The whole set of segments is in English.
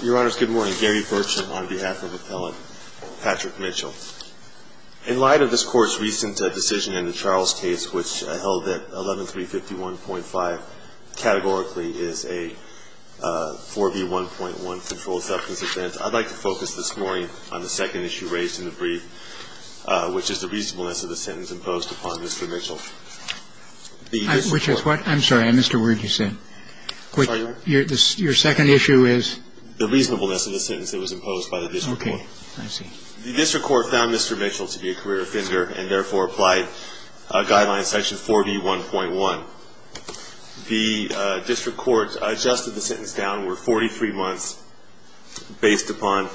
In light of this Court's recent decision in the Charles case, which held that 11351.5 categorically is a 4 v. 1.1 controlled substance offense, I'd like to focus this morning on the second issue raised in the brief, which is the reasonableness of the sentence imposed upon Mr. Mitchell. Which is what? I'm sorry, I missed a word you said. Your second issue is? The reasonableness of the sentence that was imposed by the district court. Okay, I see. The district court found Mr. Mitchell to be a career offender and therefore applied a guideline, section 4 v. 1.1. The district court adjusted the sentence downward 43 months based upon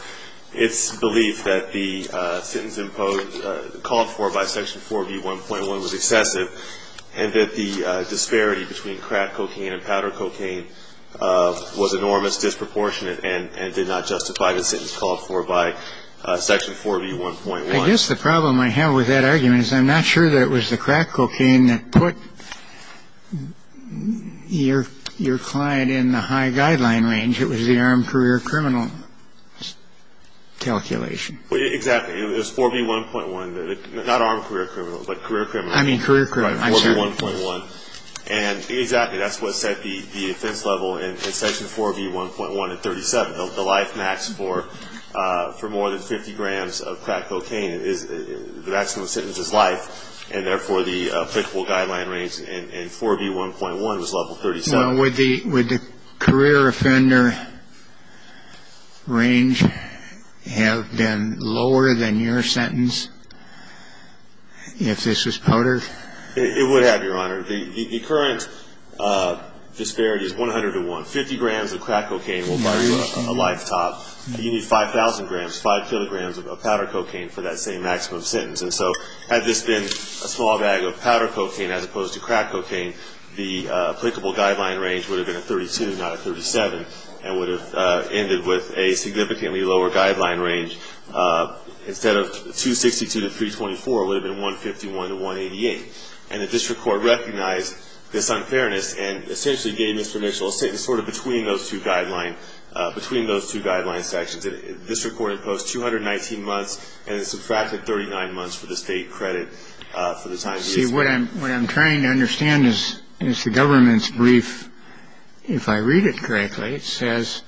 its belief that the sentence imposed, called for by section 4 v. 1.1 was excessive and that the disparity between crack cocaine and powder cocaine was enormous, disproportionate, and did not justify the sentence called for by section 4 v. 1.1. I guess the problem I have with that argument is I'm not sure that it was the crack cocaine that put your client in the high guideline range. It was the armed career criminal calculation. Exactly. It was 4 v. 1.1. Not armed career criminal, but career criminal. I mean career criminal. I'm sorry. It was 4 v. 1.1. And exactly, that's what set the offense level in section 4 v. 1.1 at 37. The life max for more than 50 grams of crack cocaine, the maximum sentence is life, and therefore the applicable guideline range in 4 v. 1.1 was level 37. Well, would the career offender range have been lower than your sentence if this was powder? It would have, Your Honor. The current disparity is 100 to 1. Fifty grams of crack cocaine will buy you a lifetime. You need 5,000 grams, 5 kilograms of powder cocaine for that same maximum sentence. And so had this been a small bag of powder cocaine as opposed to crack cocaine, the applicable guideline range would have been a 32, not a 37, and would have ended with a significantly lower guideline range. And the district court recognized this unfairness and essentially gave Mr. Mitchell a sentence sort of between those two guidelines, between those two guideline sections. The district court imposed 219 months and subtracted 39 months for the state credit for the time he was sentenced. See, what I'm trying to understand is the government's brief. If I read it correctly, it says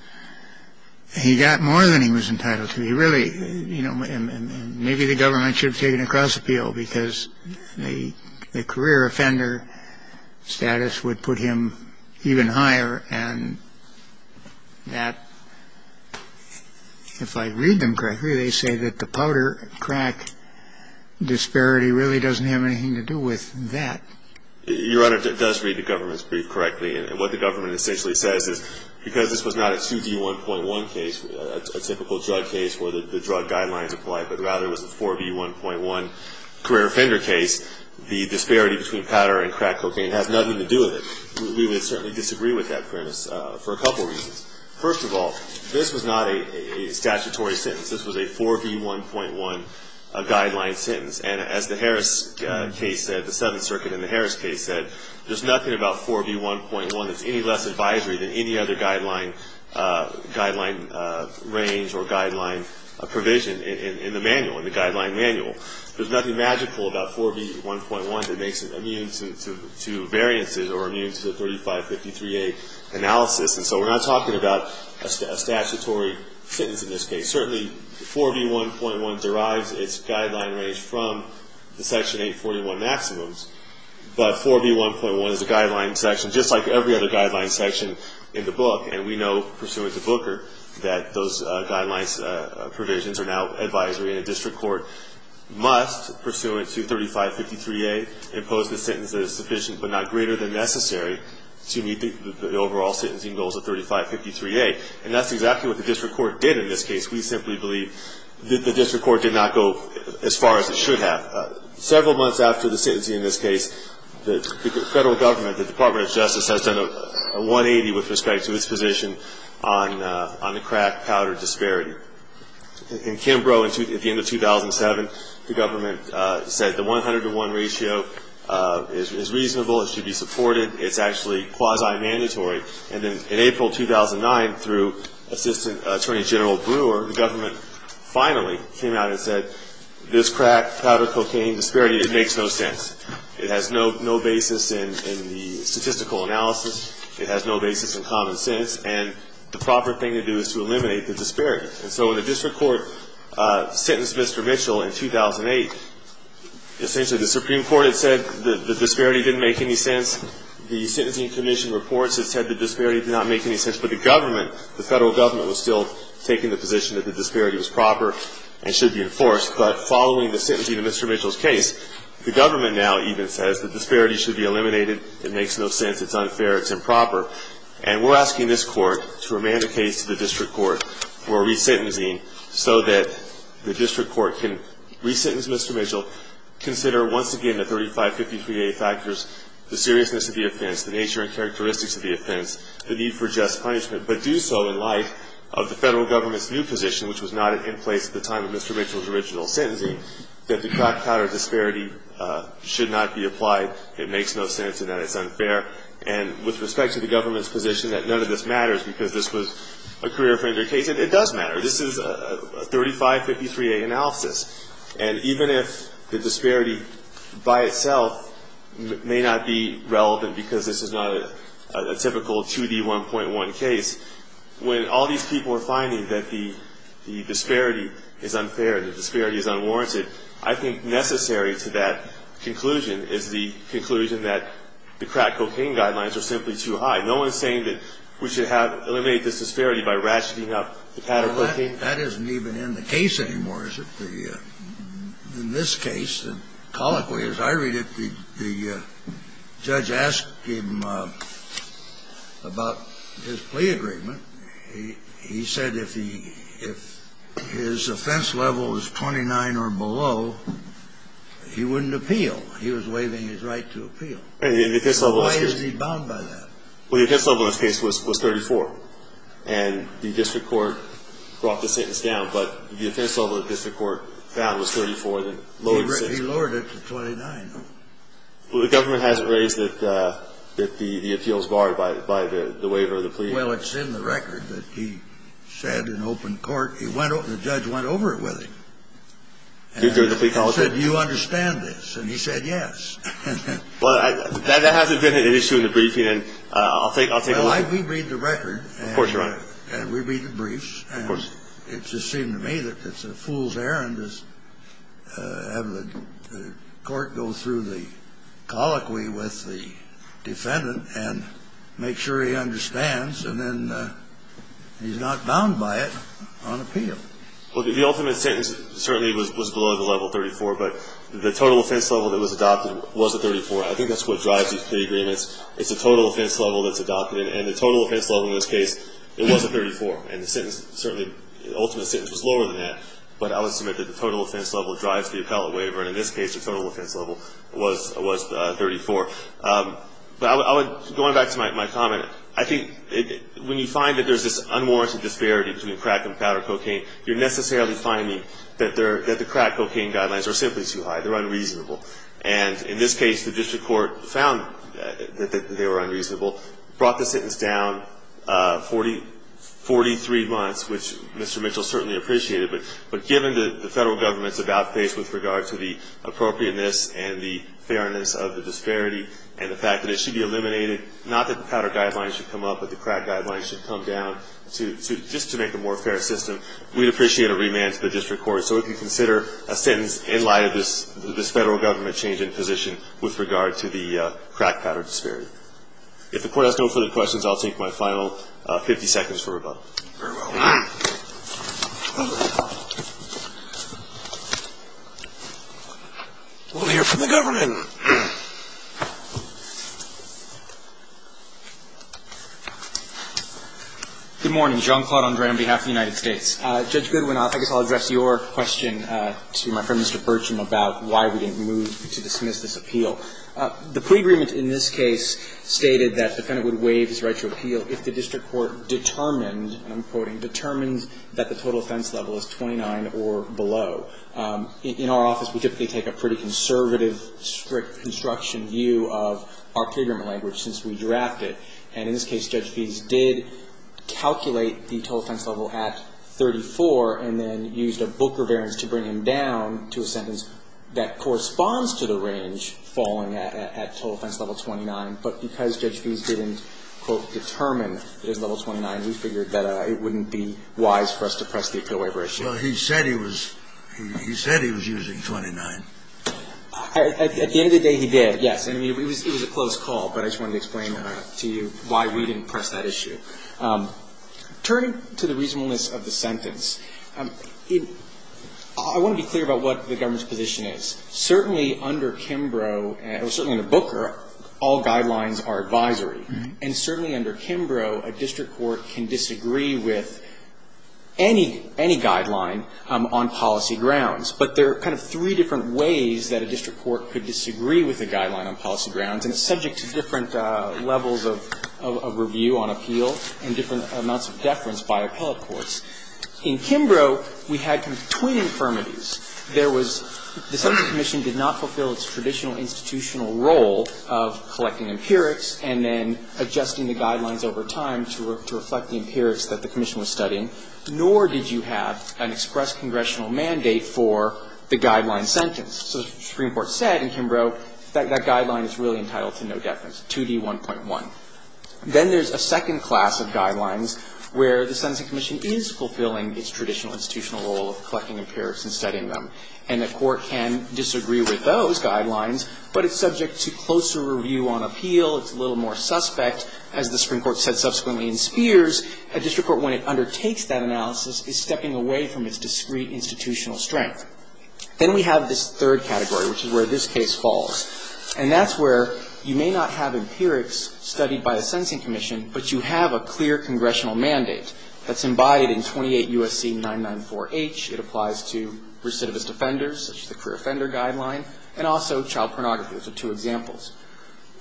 he got more than he was entitled to. He really, you know, maybe the government should have taken a cross appeal because the career offender status would put him even higher. And that, if I read them correctly, they say that the powder crack disparity really doesn't have anything to do with that. Your Honor, it does read the government's brief correctly. And what the government essentially says is because this was not a 2D1.1 case, a typical drug case where the drug guidelines apply, but rather it was a 4B1.1 career offender case, the disparity between powder and crack cocaine has nothing to do with it. We would certainly disagree with that premise for a couple of reasons. First of all, this was not a statutory sentence. This was a 4B1.1 guideline sentence. And as the Harris case said, the Seventh Circuit in the Harris case said, there's nothing about 4B1.1 that's any less advisory than any other guideline range or guideline provision in the manual, in the guideline manual. There's nothing magical about 4B1.1 that makes it immune to variances or immune to the 3553A analysis. And so we're not talking about a statutory sentence in this case. Certainly, 4B1.1 derives its guideline range from the Section 841 maximums. But 4B1.1 is a guideline section, just like every other guideline section in the book, and we know pursuant to Booker that those guidelines provisions are now advisory and a district court must, pursuant to 3553A, impose the sentence that is sufficient but not greater than necessary to meet the overall sentencing goals of 3553A. And that's exactly what the district court did in this case. We simply believe that the district court did not go as far as it should have. Several months after the sentencing in this case, the federal government, the Department of Justice, has done a 180 with respect to its position on the crack-powder disparity. In Kimbrough, at the end of 2007, the government said the 100 to 1 ratio is reasonable, it should be supported, it's actually quasi-mandatory. And then in April 2009, through Assistant Attorney General Brewer, the government finally came out and said this crack-powder cocaine disparity, it makes no sense. It has no basis in the statistical analysis. It has no basis in common sense. And the proper thing to do is to eliminate the disparity. And so when the district court sentenced Mr. Mitchell in 2008, essentially the Supreme Court had said the disparity didn't make any sense. The sentencing commission reports had said the disparity did not make any sense. But the government, the federal government was still taking the position that the disparity was proper and should be enforced, but following the sentencing of Mr. Mitchell's case, the government now even says the disparity should be eliminated. It makes no sense. It's unfair. It's improper. And we're asking this court to remand the case to the district court for re-sentencing so that the district court can re-sentence Mr. Mitchell, consider once again the 3553A factors, the seriousness of the offense, the nature and characteristics of the offense, the need for just punishment, but do so in light of the federal government's new position, which was not in place at the time of Mr. Mitchell's original sentencing, that the crack-powder disparity should not be applied. It makes no sense and that it's unfair. And with respect to the government's position that none of this matters because this was a career offender case, it does matter. This is a 3553A analysis. And even if the disparity by itself may not be relevant because this is not a typical 2D1.1 case, when all these people are finding that the disparity is unfair, the disparity is unwarranted, I think necessary to that conclusion is the conclusion that the crack cocaine guidelines are simply too high. No one is saying that we should eliminate this disparity by ratcheting up the pack of cocaine. That isn't even in the case anymore, is it? In this case, colloquially as I read it, the judge asked him about his plea agreement. He said if his offense level is 29 or below, he wouldn't appeal. He was waiving his right to appeal. Why is he bound by that? Well, the offense level in this case was 34. And the district court brought the sentence down. But the offense level the district court found was 34. He lowered it to 29. Well, the government hasn't raised the appeals bar by the waiver of the plea. Well, it's in the record that he said in open court. The judge went over it with him. He said, do you understand this? And he said, yes. Well, that hasn't been an issue in the briefing. And I'll take a look at it. Well, we read the record. Of course, Your Honor. And we read the briefs. Of course. And it just seemed to me that it's a fool's errand to have the court go through the colloquy with the defendant and make sure he understands and then he's not bound by it on appeal. Well, the ultimate sentence certainly was below the level 34. But the total offense level that was adopted was a 34. I think that's what drives these plea agreements. It's the total offense level that's adopted. And the total offense level in this case, it was a 34. And the sentence certainly, the ultimate sentence was lower than that. But I would submit that the total offense level drives the appellate waiver. And in this case, the total offense level was 34. But I would, going back to my comment, I think when you find that there's this unwarranted disparity between crack and powder cocaine, you're necessarily finding that the crack cocaine guidelines are simply too high. They're unreasonable. And in this case, the district court found that they were unreasonable, brought the sentence down 43 months, which Mr. Mitchell certainly appreciated. But given the federal government's about face with regard to the appropriateness and the fairness of the disparity and the fact that it should be eliminated, not that the powder guidelines should come up, but the crack guidelines should come down, just to make a more fair system, we'd appreciate a remand to the district court. So if you consider a sentence in light of this federal government change in position with regard to the crack powder disparity. If the Court has no further questions, I'll take my final 50 seconds for rebuttal. Very well. We'll hear from the government. Good morning. John Claude Andre on behalf of the United States. Judge Goodwin, I guess I'll address your question to my friend Mr. Burcham about why we didn't move to dismiss this appeal. The pre-agreement in this case stated that the defendant would waive his right to appeal if the district court determined, and I'm quoting, determined that the total offense level is 29 or below. In our office, we typically take a pretty conservative, strict construction view of our pre-agreement language since we draft it. And in this case, Judge Feese did calculate the total offense level at 34 and then used a book reverence to bring him down to a sentence that corresponds to the range falling at total offense level 29. But because Judge Feese didn't, quote, determine that it was level 29, we figured that it wouldn't be wise for us to press the appeal waiver issue. Well, he said he was using 29. At the end of the day, he did, yes. I mean, it was a close call, but I just wanted to explain to you why we didn't press that issue. Turning to the reasonableness of the sentence, I want to be clear about what the government's position is. Certainly under Kimbrough, or certainly under Booker, all guidelines are advisory. And certainly under Kimbrough, a district court can disagree with any guideline on policy grounds. But there are kind of three different ways that a district court could disagree with a guideline on policy grounds, and it's subject to different levels of review on appeal and different amounts of deference by appellate courts. In Kimbrough, we had kind of twin infirmities. There was the subject commission did not fulfill its traditional institutional role of collecting empirics and then adjusting the guidelines over time to reflect the empirics that the commission was studying, nor did you have an express congressional mandate for the guideline sentence. So the Supreme Court said in Kimbrough that that guideline is really entitled to no deference, 2D1.1. Then there's a second class of guidelines where the sentencing commission is fulfilling its traditional institutional role of collecting empirics and studying them. And the court can disagree with those guidelines, but it's subject to closer review on appeal. It's a little more suspect. As the Supreme Court said subsequently in Spears, a district court, when it undertakes that analysis, is stepping away from its discrete institutional strength. Then we have this third category, which is where this case falls. And that's where you may not have empirics studied by the sentencing commission, but you have a clear congressional mandate that's embodied in 28 U.S.C. 994H. It applies to recidivist offenders, such as the career offender guideline, and also child pornography. Those are two examples.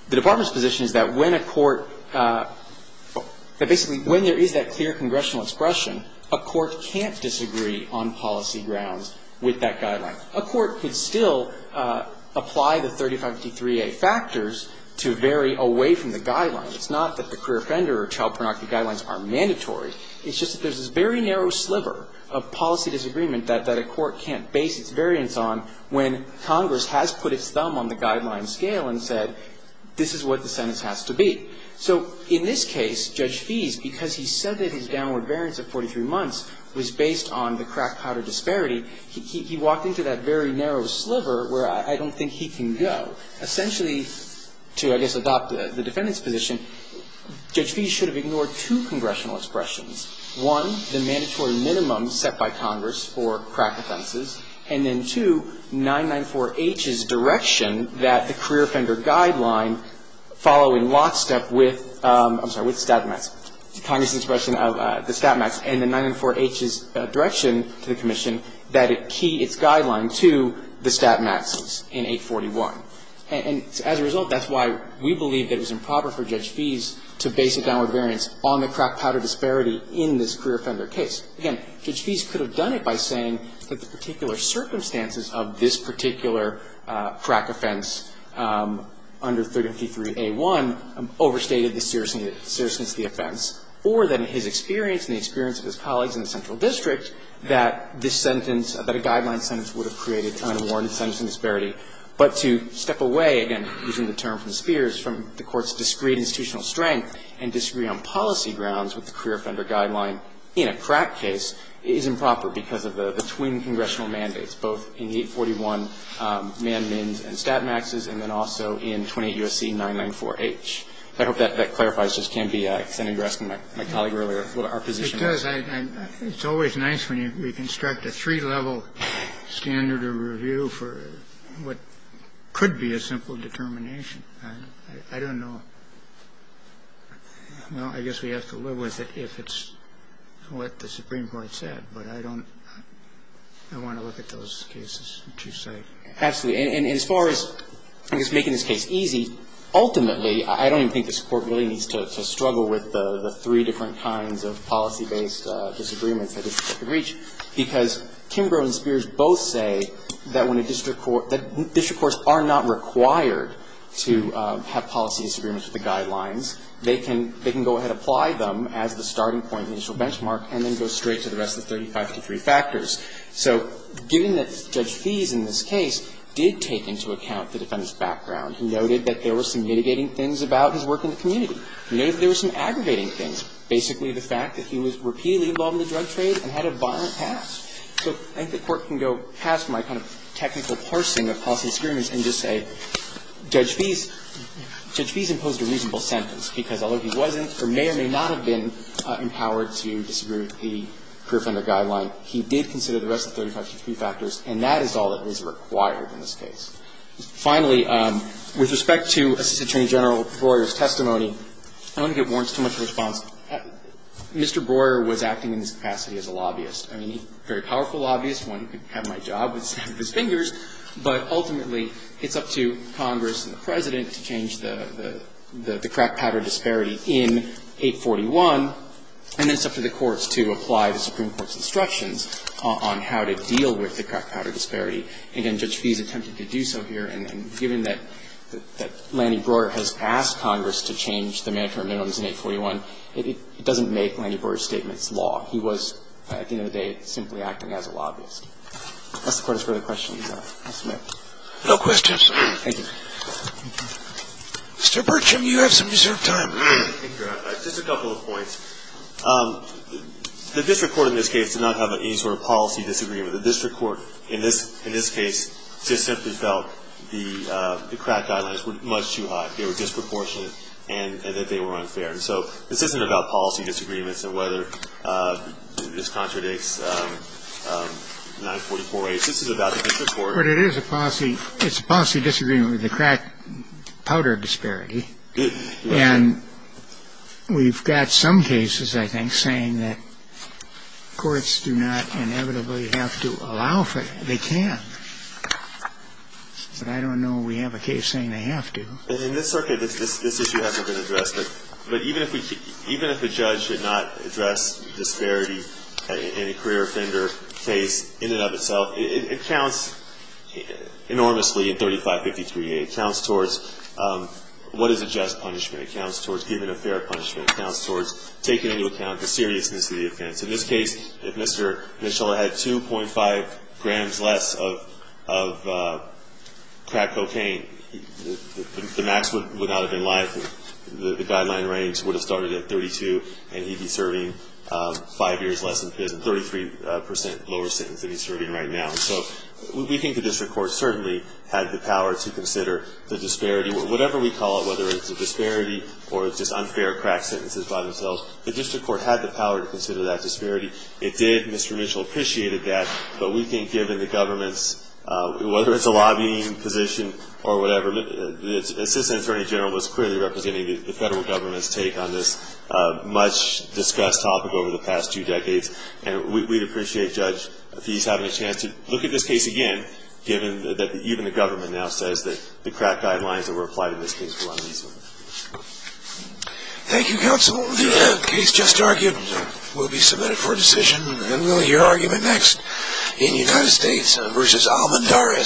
The Department's position is that when a court – that basically when there is that clear congressional expression, a court can't disagree on policy grounds with that guideline. A court could still apply the 3553A factors to vary away from the guidelines. It's not that the career offender or child pornography guidelines are mandatory. It's just that there's this very narrow sliver of policy disagreement that a court can't base its variance on when Congress has put its thumb on the guideline scale and said this is what the sentence has to be. So in this case, Judge Fees, because he said that his downward variance of 43 months was based on the crack powder disparity, he walked into that very narrow sliver where I don't think he can go. Essentially, to I guess adopt the defendant's position, Judge Fees should have ignored two congressional expressions. One, the mandatory minimum set by Congress for crack offenses, and then two, 994H's direction that the career offender guideline following lockstep with – I'm sorry, with stat max. Congress' expression of the stat max and the 994H's direction to the commission that it key its guideline to the stat maxes in 841. And as a result, that's why we believe that it's improper for Judge Fees to base a downward variance on the crack powder disparity in this career offender case. Again, Judge Fees could have done it by saying that the particular circumstances of this particular crack offense under 353A1 overstated the seriousness of the offense, or that in his experience and the experience of his colleagues in the central district, that this sentence, that a guideline sentence would have created an unwarranted sentence of disparity, but to step away, again, using the term from Spears, from the Court's discretionary view, and to use the term from the Supreme Court's discretionary And so the fact that the Supreme Court can't disagree on institutional strength and disagree on policy grounds with the career offender guideline in a crack case is improper because of the twin congressional mandates, both in the 841 man-mins and stat maxes and then also in 28 U.S.C. 994H. I hope that clarifies. It just can't be extended to my colleague earlier. Our position is that. And it's always nice when you construct a three-level standard of review for what could be a simple determination. I don't know. Well, I guess we have to live with it if it's what the Supreme Court said, but I don't want to look at those cases that you cite. Absolutely. And as far as, I guess, making this case easy, ultimately, I don't even think this Court really needs to struggle with the three different kinds of policy-based disagreements that this Court can reach because Kimbrough and Spears both say that when a district court that district courts are not required to have policy disagreements with the guidelines, they can go ahead and apply them as the starting point, the initial benchmark, and then go straight to the rest of the 35 to 3 factors. So given that Judge Fees in this case did take into account the defendant's background, he noted that there were some mitigating things about his work in the There were some aggravating things. Basically, the fact that he was repeatedly involved in the drug trade and had a violent past. So I think the Court can go past my kind of technical parsing of policy disagreements and just say Judge Fees imposed a reasonable sentence because although he wasn't or may or may not have been empowered to disagree with the career funder guideline, he did consider the rest of the 35 to 3 factors, and that is all that is required in this case. Finally, with respect to Assistant Attorney General Breuer's testimony, I don't want to get warrants too much in response. Mr. Breuer was acting in this capacity as a lobbyist. I mean, a very powerful lobbyist, one who could have my job with his fingers, but ultimately it's up to Congress and the President to change the crack powder disparity in 841, and then it's up to the courts to apply the Supreme Court's instructions on how to deal with the crack powder disparity. Again, Judge Fees attempted to do so here, and given that Lanny Breuer has asked Congress to change the mandatory minimums in 841, it doesn't make Lanny Breuer's statements law. He was, at the end of the day, simply acting as a lobbyist. If the Court has further questions, I'll submit. No questions. Thank you. Mr. Bertram, you have some reserved time. Thank you. Just a couple of points. The district court in this case did not have any sort of policy disagreement. The district court in this case just simply felt the crack guidelines were much too high, they were disproportionate, and that they were unfair. So this isn't about policy disagreements and whether this contradicts 944A. This is about the district court. But it is a policy disagreement with the crack powder disparity. And we've got some cases, I think, saying that courts do not inevitably have to allow for it. They can. But I don't know we have a case saying they have to. In this circuit, this issue hasn't been addressed. But even if a judge should not address disparity in a career offender case in and of itself, it counts enormously in 3553A. It counts towards what is a just punishment. It counts towards giving a fair punishment. It counts towards taking into account the seriousness of the offense. In this case, if Mr. Michella had 2.5 grams less of crack cocaine, the maximum would not have been liable. The guideline range would have started at 32 and he'd be serving five years less than 33% lower sentence than he's serving right now. So we think the district court certainly had the power to consider the disparity. Whatever we call it, whether it's a disparity or just unfair crack sentences by disparity, it did. Mr. Michella appreciated that. But we think given the government's, whether it's a lobbying position or whatever, the assistant attorney general was clearly representing the federal government's take on this much-discussed topic over the past two decades. And we'd appreciate, Judge, if he's having a chance to look at this case again, given that even the government now says that the crack guidelines that were applied in this case were unreasonable. Thank you, counsel. The case just argued will be submitted for decision. And we'll hear argument next in United States v. Almondaris.